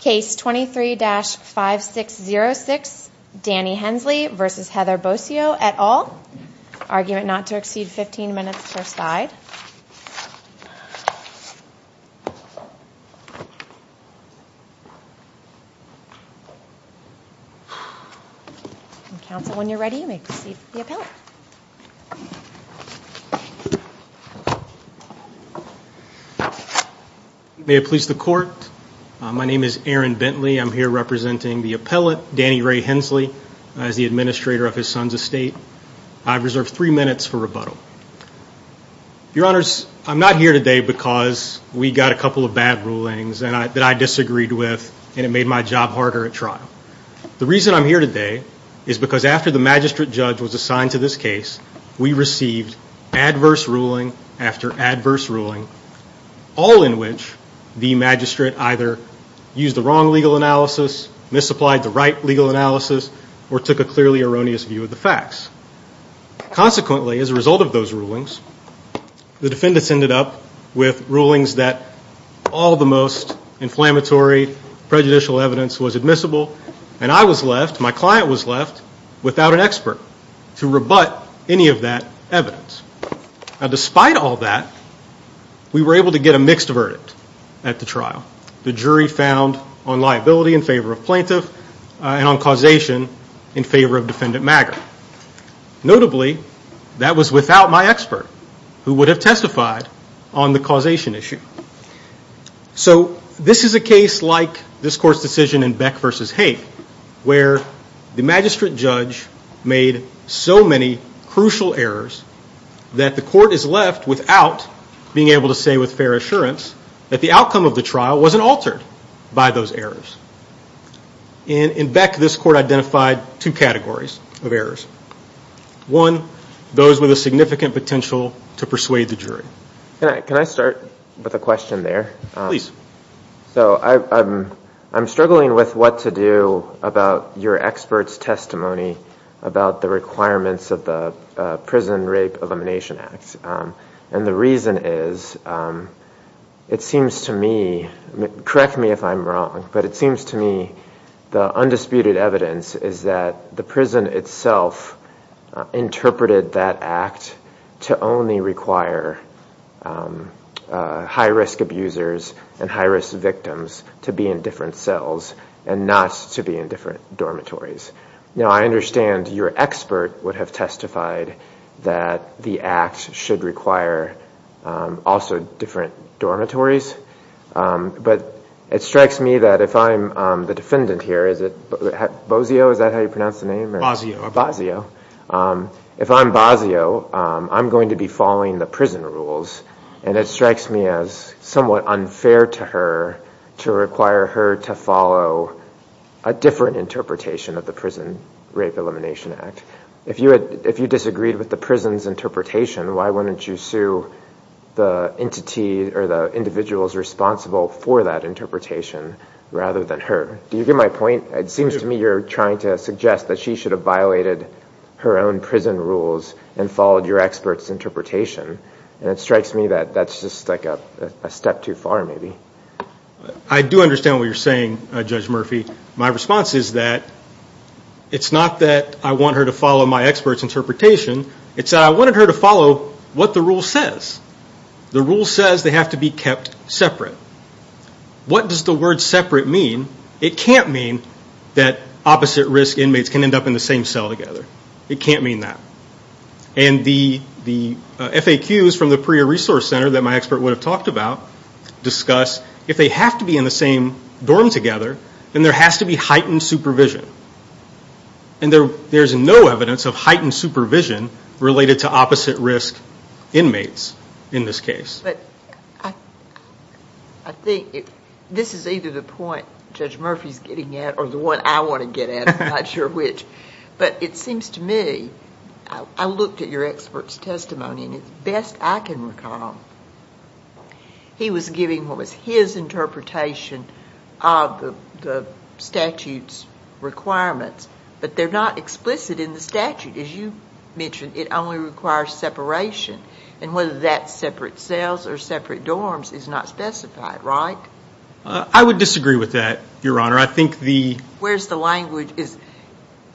Case 23-5606, Danny Hensley v. Heather Bossio et al. Argument not to exceed 15 minutes per side. Council, when you're ready, you may proceed with the appellate. May it please the court, my name is Aaron Bentley. I'm here representing the appellate, Danny Ray Hensley, as the administrator of his son's estate. I've reserved three minutes for rebuttal. Your Honors, I'm not here today because we got a couple of bad rulings that I disagreed with and it made my job harder at trial. The reason I'm here today is because after the magistrate judge was assigned to this case, we received adverse ruling after adverse ruling, all in which the magistrate either used the wrong legal analysis, misapplied the right legal analysis, or took a clearly erroneous view of the facts. Consequently, as a result of those rulings, the defendants ended up with rulings that all the most inflammatory, prejudicial evidence was admissible, and I was left, my client was left, without an expert to rebut any of that evidence. Now despite all that, we were able to get a mixed verdict at the trial. The jury found on liability in favor of plaintiff, and on causation in favor of defendant Maggard. Notably, that was without my expert, who would have testified on the causation issue. So this is a case like this court's decision in Beck v. Haig, where the magistrate judge made so many crucial errors that the court is left without being able to say with fair assurance that the outcome of the trial wasn't altered by those errors. In Beck, this court identified two categories of errors. One, those with a significant potential to persuade the jury. Can I start with a question there? Please. So I'm struggling with what to do about your expert's testimony about the requirements of the Prison Rape Elimination Act. And the reason is, it seems to me, correct me if I'm wrong, but it seems to me the undisputed evidence is that the prison itself interpreted that act to only require high-risk abusers and high-risk victims to be in different cells, and not to be in different dormitories. Now I understand your expert would have testified that the act should require also different dormitories. But it strikes me that if I'm the defendant here, is it Bozio, is that how you pronounce the name? Bozio. If I'm Bozio, I'm going to be following the prison rules. And it strikes me as somewhat unfair to her to require her to follow a different interpretation of the Prison Rape Elimination Act. If you disagreed with the prison's interpretation, why wouldn't you sue the individual responsible for that interpretation rather than her? Do you get my point? It seems to me you're trying to suggest that she should have violated her own prison rules and followed your expert's interpretation. And it strikes me that that's just a step too far maybe. I do understand what you're saying, Judge Murphy. My response is that it's not that I want her to follow my expert's interpretation. It's that I wanted her to follow what the rule says. The rule says they have to be kept separate. What does the word separate mean? It can't mean that opposite-risk inmates can end up in the same cell together. It can't mean that. And the FAQs from the PREA Resource Center that my expert would have talked about discuss if they have to be in the same dorm together, then there has to be heightened supervision. And there's no evidence of heightened supervision related to opposite-risk inmates in this case. But I think this is either the point Judge Murphy's getting at or the one I want to get at. I'm not sure which. But it seems to me, I looked at your expert's testimony, and the best I can recall, he was giving what was his interpretation of the statute's requirements. But they're not explicit in the statute. As you mentioned, it only requires separation. And whether that's separate cells or separate dorms is not specified, right? I would disagree with that, Your Honor. I think the ‑‑ Where's the language? You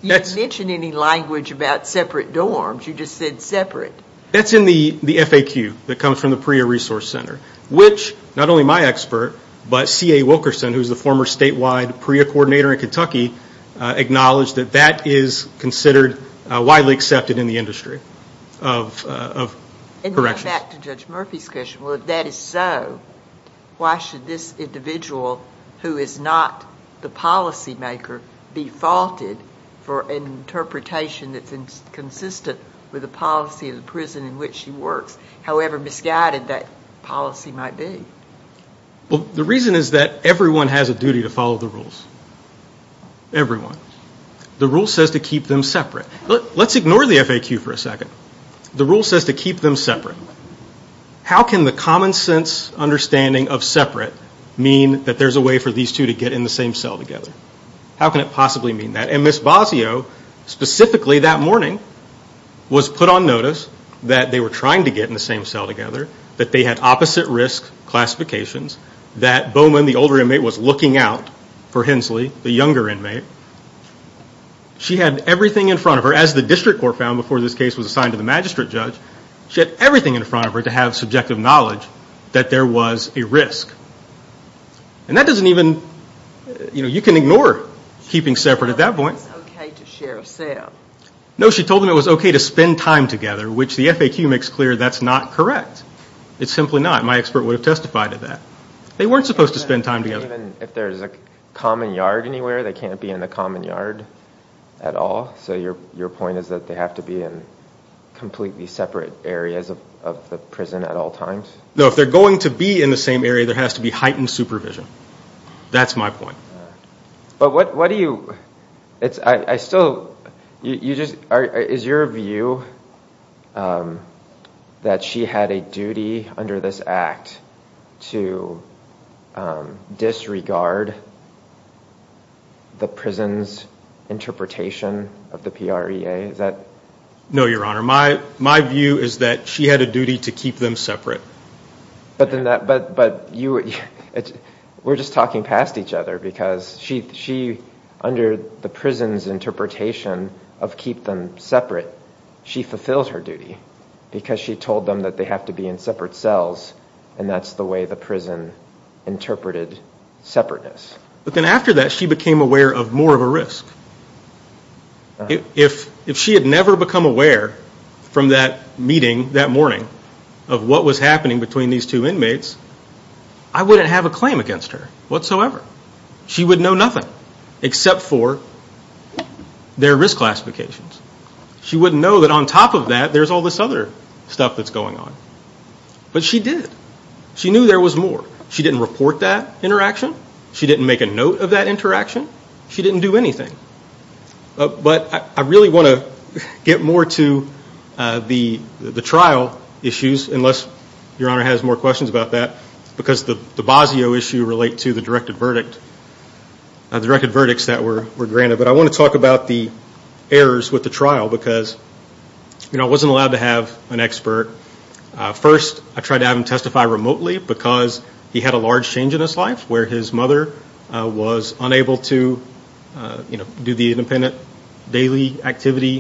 didn't mention any language about separate dorms. You just said separate. That's in the FAQ that comes from the PREA Resource Center, which not only my expert, but C.A. Wilkerson, who's the former statewide PREA coordinator in Kentucky, acknowledged that that is considered widely accepted in the industry of corrections. And then back to Judge Murphy's question, well, if that is so, why should this individual who is not the policymaker be faulted for an interpretation that's inconsistent with the policy of the prison in which she works, however misguided that policy might be? Well, the reason is that everyone has a duty to follow the rules. Everyone. The rule says to keep them separate. Let's ignore the FAQ for a second. The rule says to keep them separate. How can the common sense understanding of separate mean that there's a way for these two to get in the same cell together? How can it possibly mean that? And Ms. Basio, specifically that morning, was put on notice that they were trying to get in the same cell together, that they had opposite risk classifications, that Bowman, the older inmate, was looking out for Hensley, the younger inmate. She had everything in front of her, as the district court found before this case was assigned to the magistrate judge. She had everything in front of her to have subjective knowledge that there was a risk. And that doesn't even, you know, you can ignore keeping separate at that point. She told them it was okay to share a cell. No, she told them it was okay to spend time together, which the FAQ makes clear that's not correct. It's simply not. My expert would have testified to that. They weren't supposed to spend time together. Even if there's a common yard anywhere, they can't be in the common yard at all? So your point is that they have to be in completely separate areas of the prison at all times? No, if they're going to be in the same area, there has to be heightened supervision. That's my point. But what do you, I still, you just, is your view that she had a duty under this act to disregard the prison's interpretation of the PREA? No, Your Honor. My view is that she had a duty to keep them separate. But you, we're just talking past each other because she, under the prison's interpretation of keep them separate, she fulfilled her duty because she told them that they have to be in separate cells, and that's the way the prison interpreted separateness. But then after that, she became aware of more of a risk. If she had never become aware from that meeting that morning of what was happening between these two inmates, I wouldn't have a claim against her whatsoever. She would know nothing except for their risk classifications. She wouldn't know that on top of that there's all this other stuff that's going on. But she did. She knew there was more. She didn't report that interaction. She didn't make a note of that interaction. She didn't do anything. But I really want to get more to the trial issues, unless Your Honor has more questions about that, because the Basio issue relate to the directed verdict, the directed verdicts that were granted. But I want to talk about the errors with the trial because, you know, I wasn't allowed to have an expert. First, I tried to have him testify remotely because he had a large change in his life where his mother was unable to, you know, do the independent daily activity,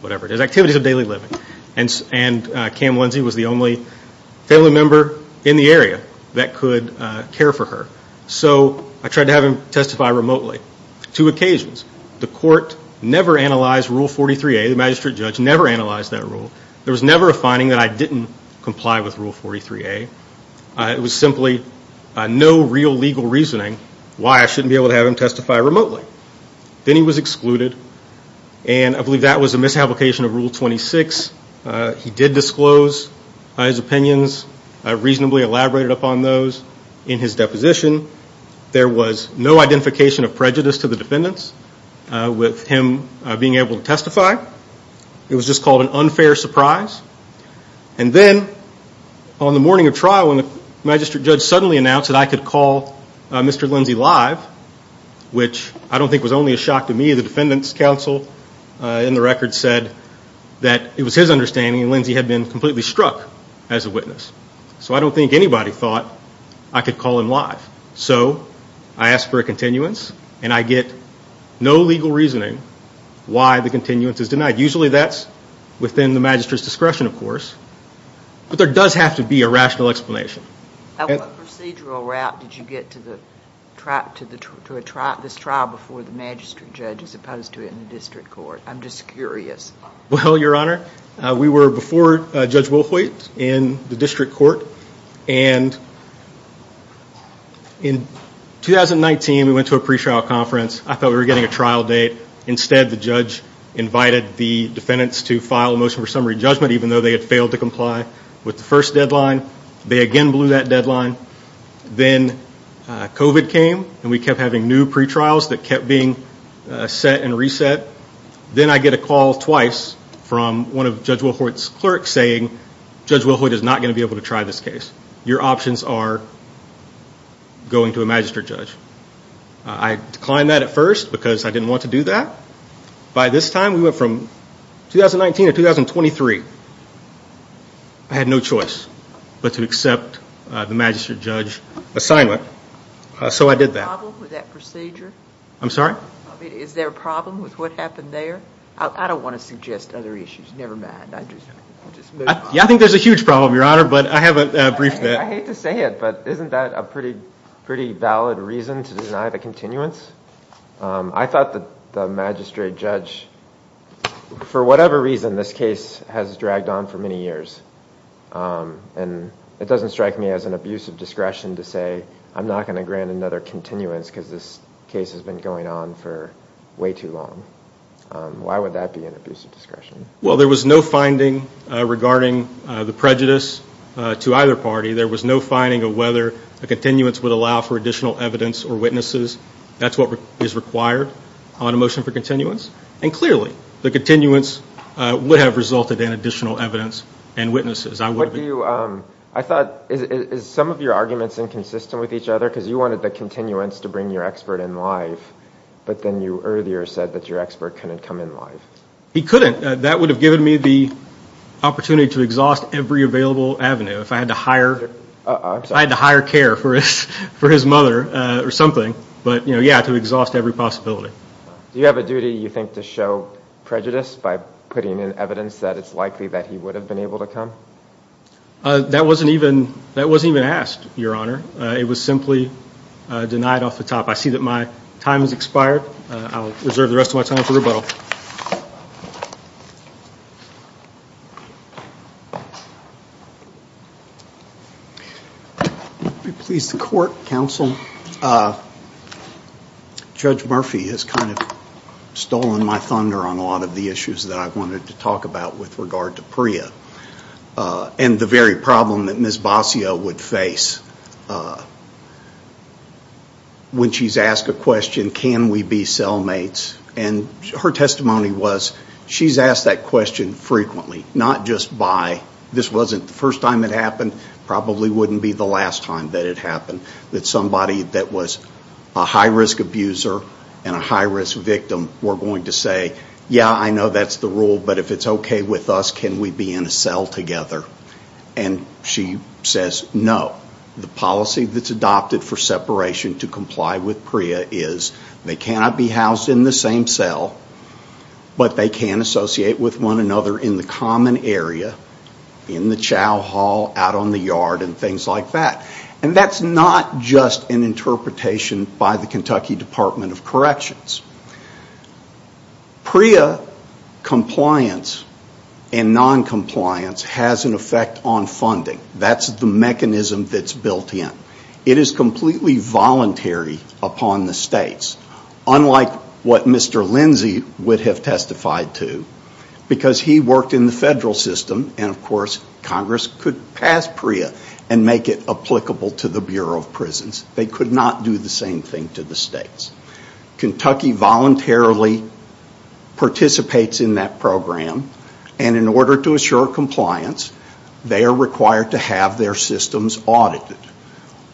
whatever it is, activities of daily living. And Cam Lindsey was the only family member in the area that could care for her. So I tried to have him testify remotely. Two occasions, the court never analyzed Rule 43A. The magistrate judge never analyzed that rule. There was never a finding that I didn't comply with Rule 43A. It was simply no real legal reasoning why I shouldn't be able to have him testify remotely. Then he was excluded, and I believe that was a misapplication of Rule 26. He did disclose his opinions, reasonably elaborated upon those in his deposition. There was no identification of prejudice to the defendants with him being able to testify. It was just called an unfair surprise. And then on the morning of trial when the magistrate judge suddenly announced that I could call Mr. Lindsey live, which I don't think was only a shock to me. The defendants' counsel in the record said that it was his understanding, and Lindsey had been completely struck as a witness. So I don't think anybody thought I could call him live. So I asked for a continuance, and I get no legal reasoning why the continuance is denied. Usually that's within the magistrate's discretion, of course. But there does have to be a rational explanation. What procedural route did you get to this trial before the magistrate judge as opposed to in the district court? I'm just curious. Well, Your Honor, we were before Judge Wilhoite in the district court, and in 2019 we went to a pre-trial conference. I thought we were getting a trial date. Instead, the judge invited the defendants to file a motion for summary judgment, even though they had failed to comply with the first deadline. They again blew that deadline. Then COVID came, and we kept having new pre-trials that kept being set and reset. Then I get a call twice from one of Judge Wilhoite's clerks saying, Judge Wilhoite is not going to be able to try this case. Your options are going to a magistrate judge. I declined that at first because I didn't want to do that. By this time, we went from 2019 to 2023. I had no choice but to accept the magistrate judge assignment, so I did that. Is there a problem with that procedure? I'm sorry? Is there a problem with what happened there? I don't want to suggest other issues. Never mind. Yeah, I think there's a huge problem, Your Honor, but I have a brief. I hate to say it, but isn't that a pretty valid reason to deny the continuance? I thought the magistrate judge, for whatever reason, this case has dragged on for many years. It doesn't strike me as an abuse of discretion to say, I'm not going to grant another continuance because this case has been going on for way too long. Why would that be an abuse of discretion? Well, there was no finding regarding the prejudice to either party. There was no finding of whether a continuance would allow for additional evidence or witnesses. That's what is required on a motion for continuance. And clearly, the continuance would have resulted in additional evidence and witnesses. I thought, is some of your arguments inconsistent with each other? Because you wanted the continuance to bring your expert in live, but then you earlier said that your expert couldn't come in live. He couldn't. That would have given me the opportunity to exhaust every available avenue. If I had to hire care for his mother or something, but yeah, to exhaust every possibility. Do you have a duty, you think, to show prejudice by putting in evidence that it's likely that he would have been able to come? That wasn't even asked, Your Honor. It was simply denied off the top. I see that my time has expired. I'll reserve the rest of my time for rebuttal. Would it please the Court, Counsel, Judge Murphy has kind of stolen my thunder on a lot of the issues that I wanted to talk about with regard to Priya and the very problem that Ms. Basio would face when she's asked a question, can we be cellmates? And her testimony was, she's asked that question frequently, not just by, this wasn't the first time it happened, probably wouldn't be the last time that it happened, that somebody that was a high-risk abuser and a high-risk victim were going to say, yeah, I know that's the rule, but if it's okay with us, can we be in a cell together? And she says, no. The policy that's adopted for separation to comply with Priya is, they cannot be housed in the same cell, but they can associate with one another in the common area, in the chow hall, out on the yard, and things like that. And that's not just an interpretation by the Kentucky Department of Corrections. Priya compliance and noncompliance has an effect on funding. That's the mechanism that's built in. It is completely voluntary upon the states, unlike what Mr. Lindsay would have testified to, because he worked in the federal system, and of course Congress could pass Priya and make it applicable to the Bureau of Prisons. They could not do the same thing to the states. Kentucky voluntarily participates in that program, and in order to assure compliance, they are required to have their systems audited.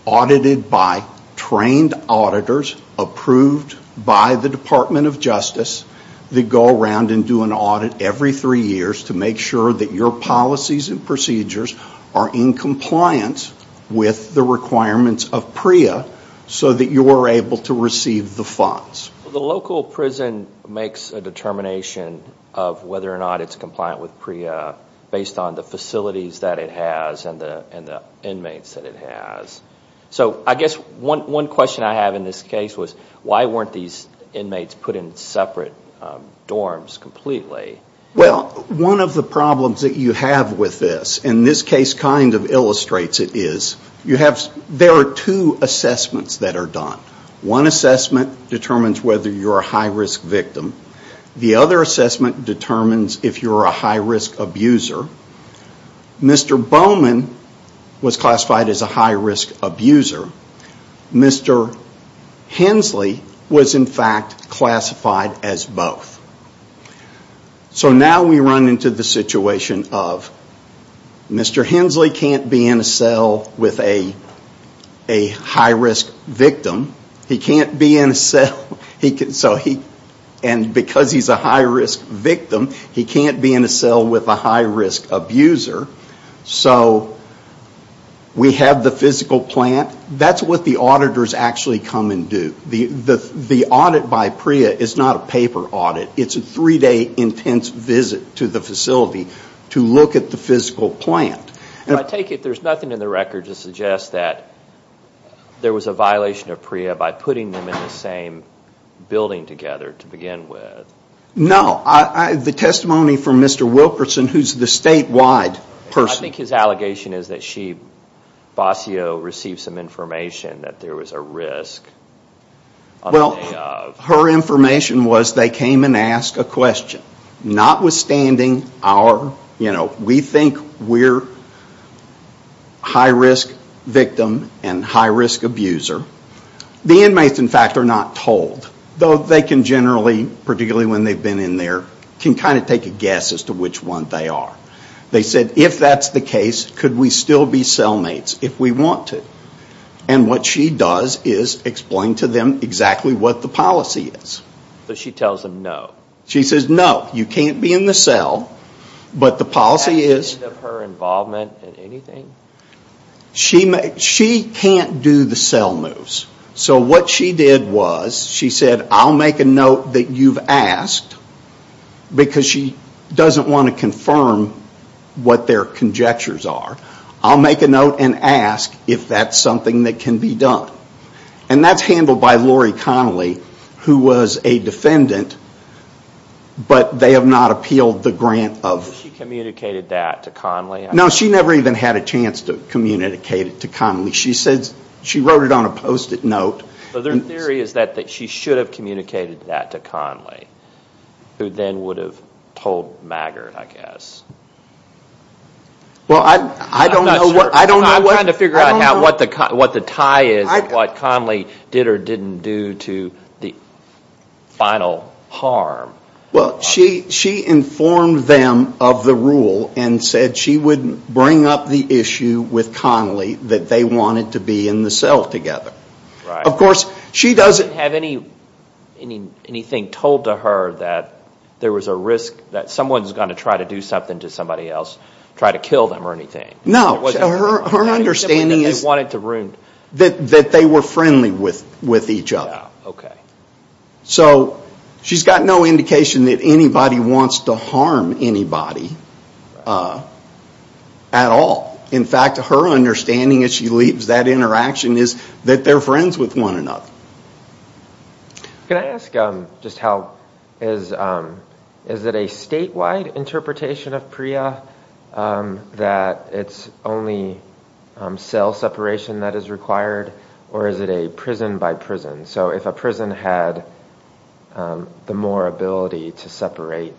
Audited by trained auditors approved by the Department of Justice that go around and do an audit every three years to make sure that your policies and procedures are in compliance with the requirements of Priya so that you are able to receive the funds. The local prison makes a determination of whether or not it's compliant with Priya based on the facilities that it has and the inmates that it has. So I guess one question I have in this case was, why weren't these inmates put in separate dorms completely? Well, one of the problems that you have with this, and this case kind of illustrates it, is there are two assessments that are done. One assessment determines whether you're a high-risk victim. The other assessment determines if you're a high-risk abuser. Mr. Bowman was classified as a high-risk abuser. Mr. Hensley was, in fact, classified as both. So now we run into the situation of Mr. Hensley can't be in a cell with a high-risk victim, and because he's a high-risk victim, he can't be in a cell with a high-risk abuser. So we have the physical plant. That's what the auditors actually come and do. The audit by Priya is not a paper audit. It's a three-day intense visit to the facility to look at the physical plant. I take it there's nothing in the record to suggest that there was a violation of Priya by putting them in the same building together to begin with. No. The testimony from Mr. Wilkerson, who's the statewide person. I think his allegation is that she, Basio, received some information that there was a risk. Well, her information was they came and asked a question. Notwithstanding our, you know, we think we're a high-risk victim and high-risk abuser, the inmates, in fact, are not told. Though they can generally, particularly when they've been in there, can kind of take a guess as to which one they are. They said, if that's the case, could we still be cellmates if we want to? And what she does is explain to them exactly what the policy is. So she tells them no. She says, no, you can't be in the cell, but the policy is... Is that because of her involvement in anything? She can't do the cell moves. So what she did was, she said, I'll make a note that you've asked, because she doesn't want to confirm what their conjectures are. I'll make a note and ask if that's something that can be done. And that's handled by Lori Connolly, who was a defendant, but they have not appealed the grant of... She communicated that to Connolly? No, she never even had a chance to communicate it to Connolly. She wrote it on a Post-it note. So their theory is that she should have communicated that to Connolly, who then would have told Maggard, I guess. Well, I don't know what... I'm trying to figure out what the tie is, what Connolly did or didn't do to the final harm. Well, she informed them of the rule and said she would bring up the issue with Connolly that they wanted to be in the cell together. Of course, she doesn't... She didn't have anything told to her that there was a risk that someone's going to try to do something to somebody else, try to kill them or anything. No, her understanding is that they were friendly with each other. So she's got no indication that anybody wants to harm anybody at all. In fact, her understanding as she leaves that interaction is that they're friends with one another. Can I ask just how... Is it a statewide interpretation of PREA that it's only cell separation that is required, or is it a prison by prison? So if a prison had the more ability to separate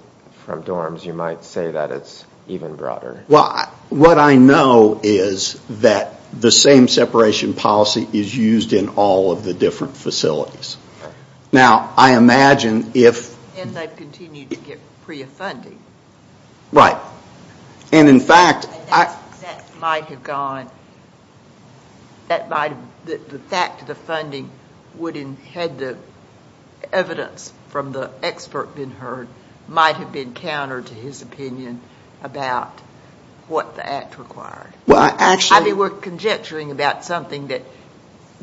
from dorms, you might say that it's even broader. Well, what I know is that the same separation policy is used in all of the different facilities. Now, I imagine if... And they've continued to get PREA funding. Right. And in fact... That might have gone... The fact of the funding, had the evidence from the expert been heard, might have been counter to his opinion about what the Act required. I mean, we're conjecturing about something that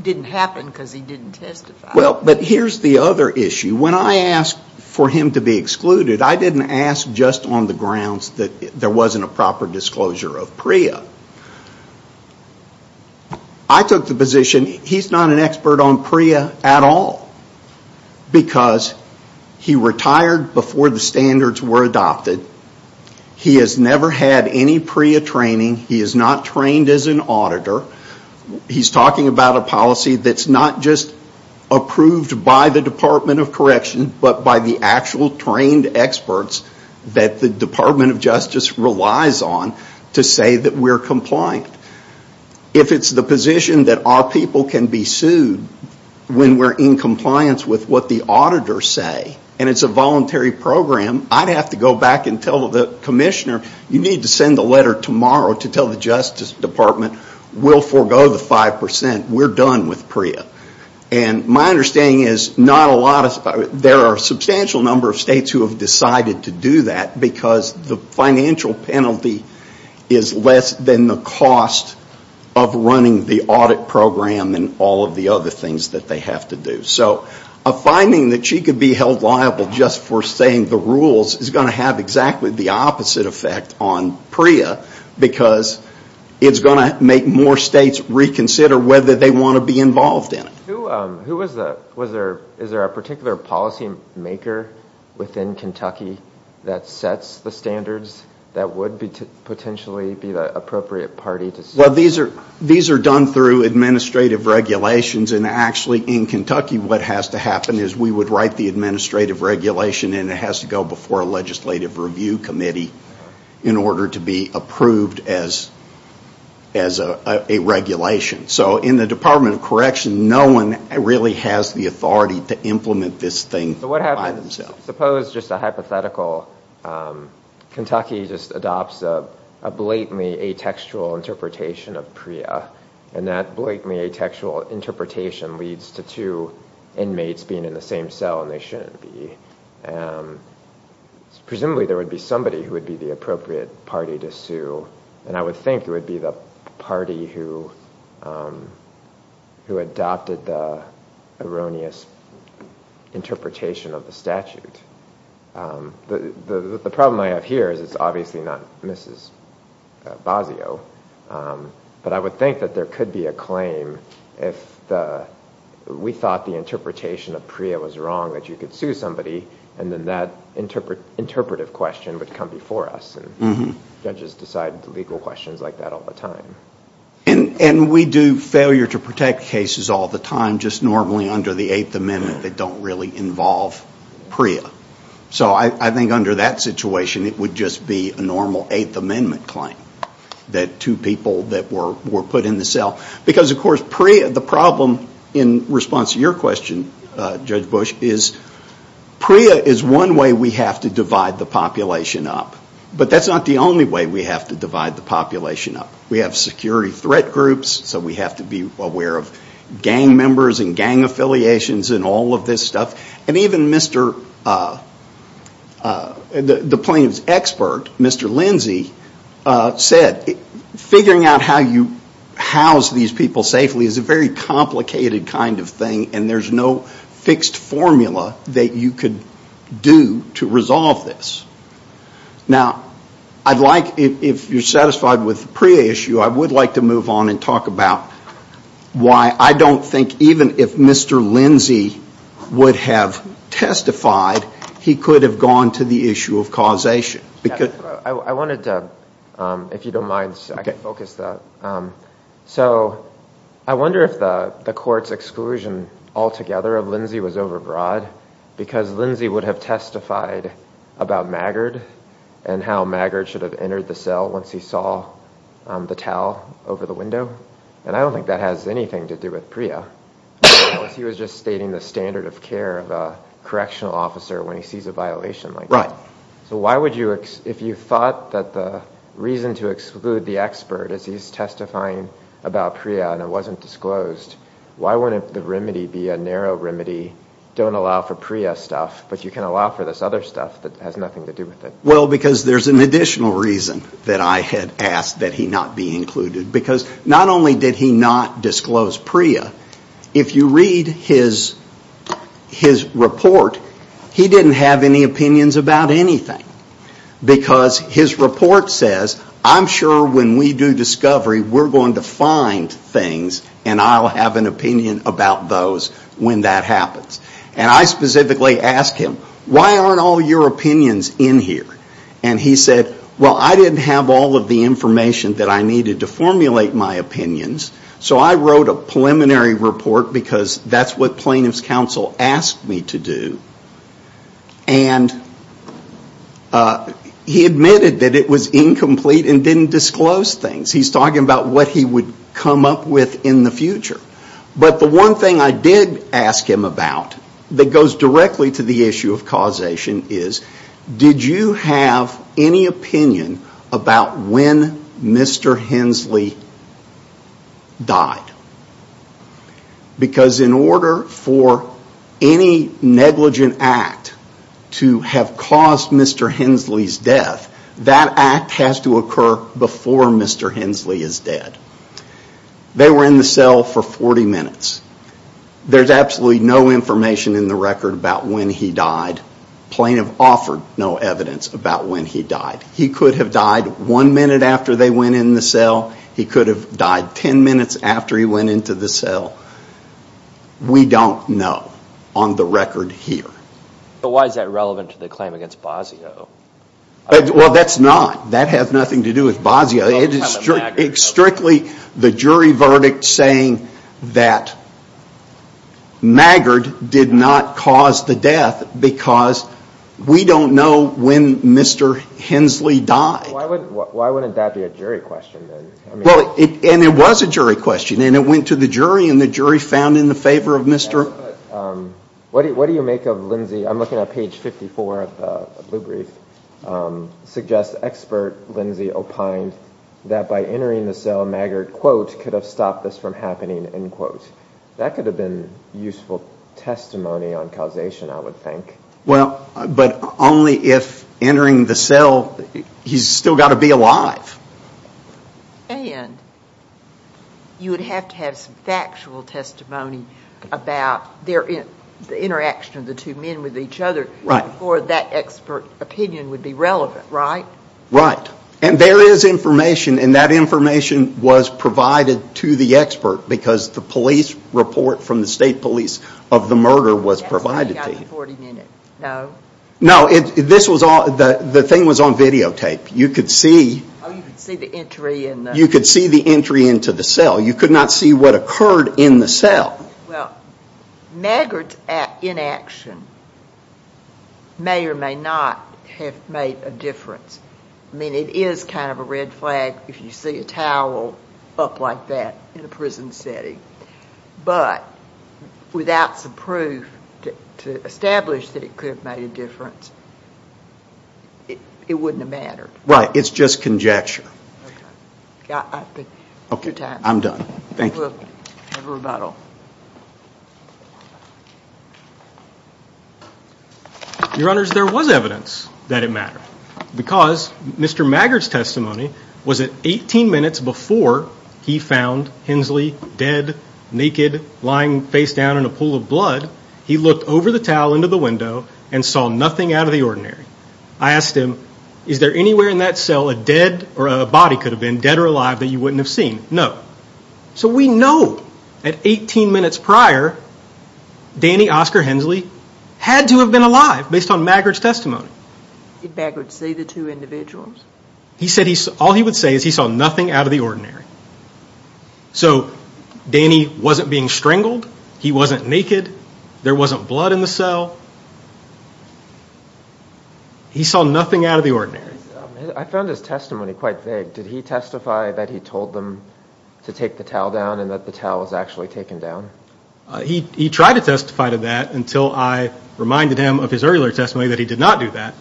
didn't happen because he didn't testify. Well, but here's the other issue. When I asked for him to be excluded, I didn't ask just on the grounds that there wasn't a proper disclosure of PREA. I took the position he's not an expert on PREA at all because he retired before the standards were adopted. He has never had any PREA training. He is not trained as an auditor. He's talking about a policy that's not just approved by the Department of Correction, but by the actual trained experts that the Department of Justice relies on to say that we're compliant. If it's the position that our people can be sued when we're in compliance with what the auditors say, and it's a voluntary program, I'd have to go back and tell the commissioner, you need to send a letter tomorrow to tell the Justice Department we'll forego the 5%. We're done with PREA. And my understanding is not a lot of... There are a substantial number of states who have decided to do that because the financial penalty is less than the cost of running the audit program and all of the other things that they have to do. So a finding that she could be held liable just for saying the rules is going to have exactly the opposite effect on PREA because it's going to make more states reconsider whether they want to be involved in it. Who was the... Is there a particular policy maker within Kentucky that sets the standards that would potentially be the appropriate party to... Well, these are done through administrative regulations, and actually in Kentucky what has to happen is we would write the administrative regulation and it has to go before a legislative review committee in order to be approved as a regulation. So in the Department of Correction, no one really has the authority to implement this thing by themselves. But what happens... Suppose just a hypothetical... Kentucky just adopts a blatantly atextual interpretation of PREA, and that blatantly atextual interpretation leads to two inmates being in the same cell and they shouldn't be. Presumably there would be somebody who would be the appropriate party to sue, and I would think it would be the party who adopted the erroneous interpretation of the statute. The problem I have here is it's obviously not Mrs. Basio, but I would think that there could be a claim if we thought the interpretation of PREA was wrong that you could sue somebody, and then that interpretive question would come before us and judges decide legal questions like that all the time. And we do failure to protect cases all the time just normally under the Eighth Amendment that don't really involve PREA. So I think under that situation it would just be a normal Eighth Amendment claim that two people were put in the cell. Because of course PREA, the problem in response to your question, Judge Bush, is PREA is one way we have to divide the population up. But that's not the only way we have to divide the population up. We have security threat groups, so we have to be aware of gang members and gang affiliations and all of this stuff. And even the plaintiff's expert, Mr. Lindsey, said figuring out how you house these people safely is a very complicated kind of thing and there's no fixed formula that you could do to resolve this. Now, I'd like, if you're satisfied with the PREA issue, I would like to move on and talk about why I don't think even if Mr. Lindsey would have testified, he could have gone to the issue of causation. I wanted to, if you don't mind, I can focus that. So I wonder if the court's exclusion altogether of Lindsey was overbroad because Lindsey would have testified about Maggard and how Maggard should have entered the cell once he saw the towel over the window. And I don't think that has anything to do with PREA. He was just stating the standard of care of a correctional officer when he sees a violation like that. So why would you, if you thought that the reason to exclude the expert as he's testifying about PREA and it wasn't disclosed, why wouldn't the remedy be a narrow remedy, don't allow for PREA stuff, but you can allow for this other stuff that has nothing to do with it? Well, because there's an additional reason that I had asked that he not be included. Because not only did he not disclose PREA, if you read his report, he didn't have any opinions about anything. Because his report says, I'm sure when we do discovery, we're going to find things, and I'll have an opinion about those when that happens. And I specifically asked him, why aren't all your opinions in here? And he said, well, I didn't have all of the information that I needed to formulate my opinions, so I wrote a preliminary report because that's what plaintiff's counsel asked me to do. And he admitted that it was incomplete and didn't disclose things. He's talking about what he would come up with in the future. But the one thing I did ask him about that goes directly to the issue of causation is, did you have any opinion about when Mr. Hensley died? Because in order for any negligent act to have caused Mr. Hensley's death, that act has to occur before Mr. Hensley is dead. They were in the cell for 40 minutes. There's absolutely no information in the record about when he died. Plaintiff offered no evidence about when he died. He could have died one minute after they went in the cell. He could have died 10 minutes after he went into the cell. We don't know on the record here. But why is that relevant to the claim against Basio? Well, that's not. That has nothing to do with Basio. It's strictly the jury verdict saying that Maggard did not cause the death because we don't know when Mr. Hensley died. Why wouldn't that be a jury question? And it was a jury question, and it went to the jury, and the jury found in the favor of Mr. Hensley. What do you make of Lindsay? I'm looking at page 54 of the blue brief. Suggests expert Lindsay opined that by entering the cell, Maggard, quote, could have stopped this from happening, end quote. That could have been useful testimony on causation, I would think. Well, but only if entering the cell, he's still got to be alive. And you would have to have some factual testimony about the interaction of the two men with each other before that expert opinion would be relevant, right? Right. And there is information, and that information was provided to the expert because the police report from the state police of the murder was provided to you. No? No. The thing was on videotape. You could see the entry into the cell. You could not see what occurred in the cell. Well, Maggard's inaction may or may not have made a difference. I mean, it is kind of a red flag if you see a towel up like that in a prison setting. But without some proof to establish that it could have made a difference, it wouldn't have mattered. Right. It's just conjecture. I'm done. Thank you. Have a rebuttal. Your Honors, there was evidence that it mattered because Mr. Maggard's testimony was that 18 minutes before he found Hensley dead, naked, lying face down in a pool of blood, he looked over the towel into the window and saw nothing out of the ordinary. I asked him, is there anywhere in that cell a dead or a body could have been, dead or alive, that you wouldn't have seen? No. So we know that 18 minutes prior, Danny Oscar Hensley had to have been alive based on Maggard's testimony. Did Maggard see the two individuals? He said all he would say is he saw nothing out of the ordinary. So Danny wasn't being strangled. He wasn't naked. There wasn't blood in the cell. He saw nothing out of the ordinary. I found his testimony quite vague. Did he testify that he told them to take the towel down and that the towel was actually taken down? He tried to testify to that until I reminded him of his earlier testimony that he did not do that.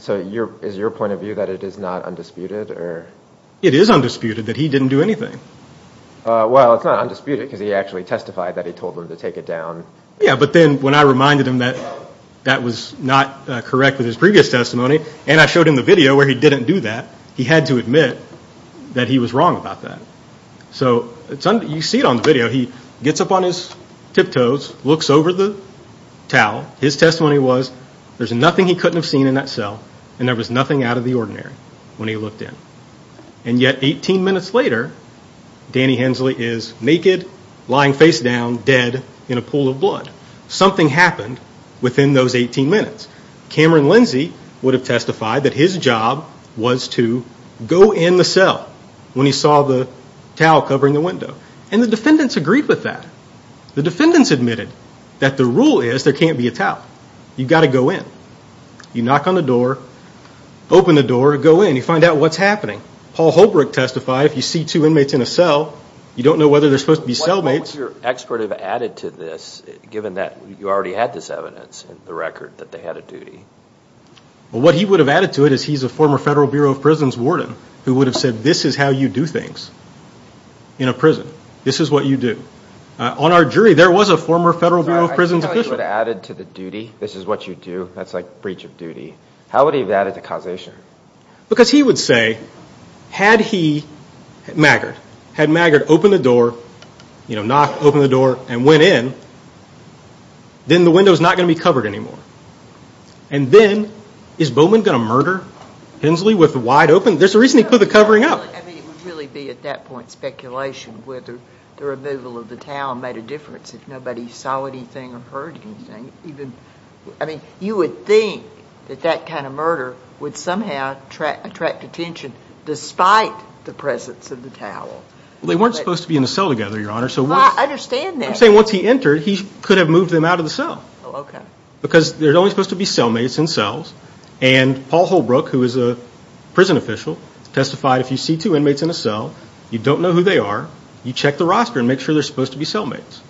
So is your point of view that it is not undisputed? It is undisputed that he didn't do anything. Well, it's not undisputed because he actually testified that he told them to take it down. Yeah, but then when I reminded him that that was not correct with his previous testimony and I showed him the video where he didn't do that, he had to admit that he was wrong about that. So you see it on the video. He gets up on his tiptoes, looks over the towel. His testimony was there's nothing he couldn't have seen in that cell and there was nothing out of the ordinary when he looked in. And yet 18 minutes later, Danny Hensley is naked, lying face down, dead in a pool of blood. Something happened within those 18 minutes. Cameron Lindsay would have testified that his job was to go in the cell when he saw the towel covering the window. And the defendants agreed with that. The defendants admitted that the rule is there can't be a towel. You've got to go in. You knock on the door, open the door, go in. You find out what's happening. Paul Holbrook testified if you see two inmates in a cell, you don't know whether they're supposed to be cellmates. What would your expert have added to this, given that you already had this evidence in the record that they had a duty? What he would have added to it is he's a former Federal Bureau of Prisons warden who would have said this is how you do things in a prison. This is what you do. On our jury, there was a former Federal Bureau of Prisons official. Sorry, I didn't know he would have added to the duty. This is what you do. That's like breach of duty. How would he have added to causation? Because he would say had he, Maggard, had Maggard opened the door, knocked, opened the door, and went in, then the window's not going to be covered anymore. And then is Bowman going to murder Hensley with the wide open? There's a reason he put the covering up. It would really be at that point speculation whether the removal of the towel made a difference if nobody saw anything or heard anything. You would think that that kind of murder would somehow attract attention despite the presence of the towel. They weren't supposed to be in the cell together, Your Honor. I understand that. I'm saying once he entered, he could have moved them out of the cell because they're only supposed to be cellmates in cells, and Paul Holbrook, who is a prison official, testified if you see two inmates in a cell, you don't know who they are, you check the roster and make sure they're supposed to be cellmates.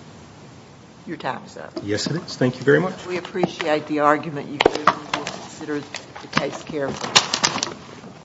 Your time is up. Yes, it is. Thank you very much. We appreciate the argument you gave. We'll consider the case carefully.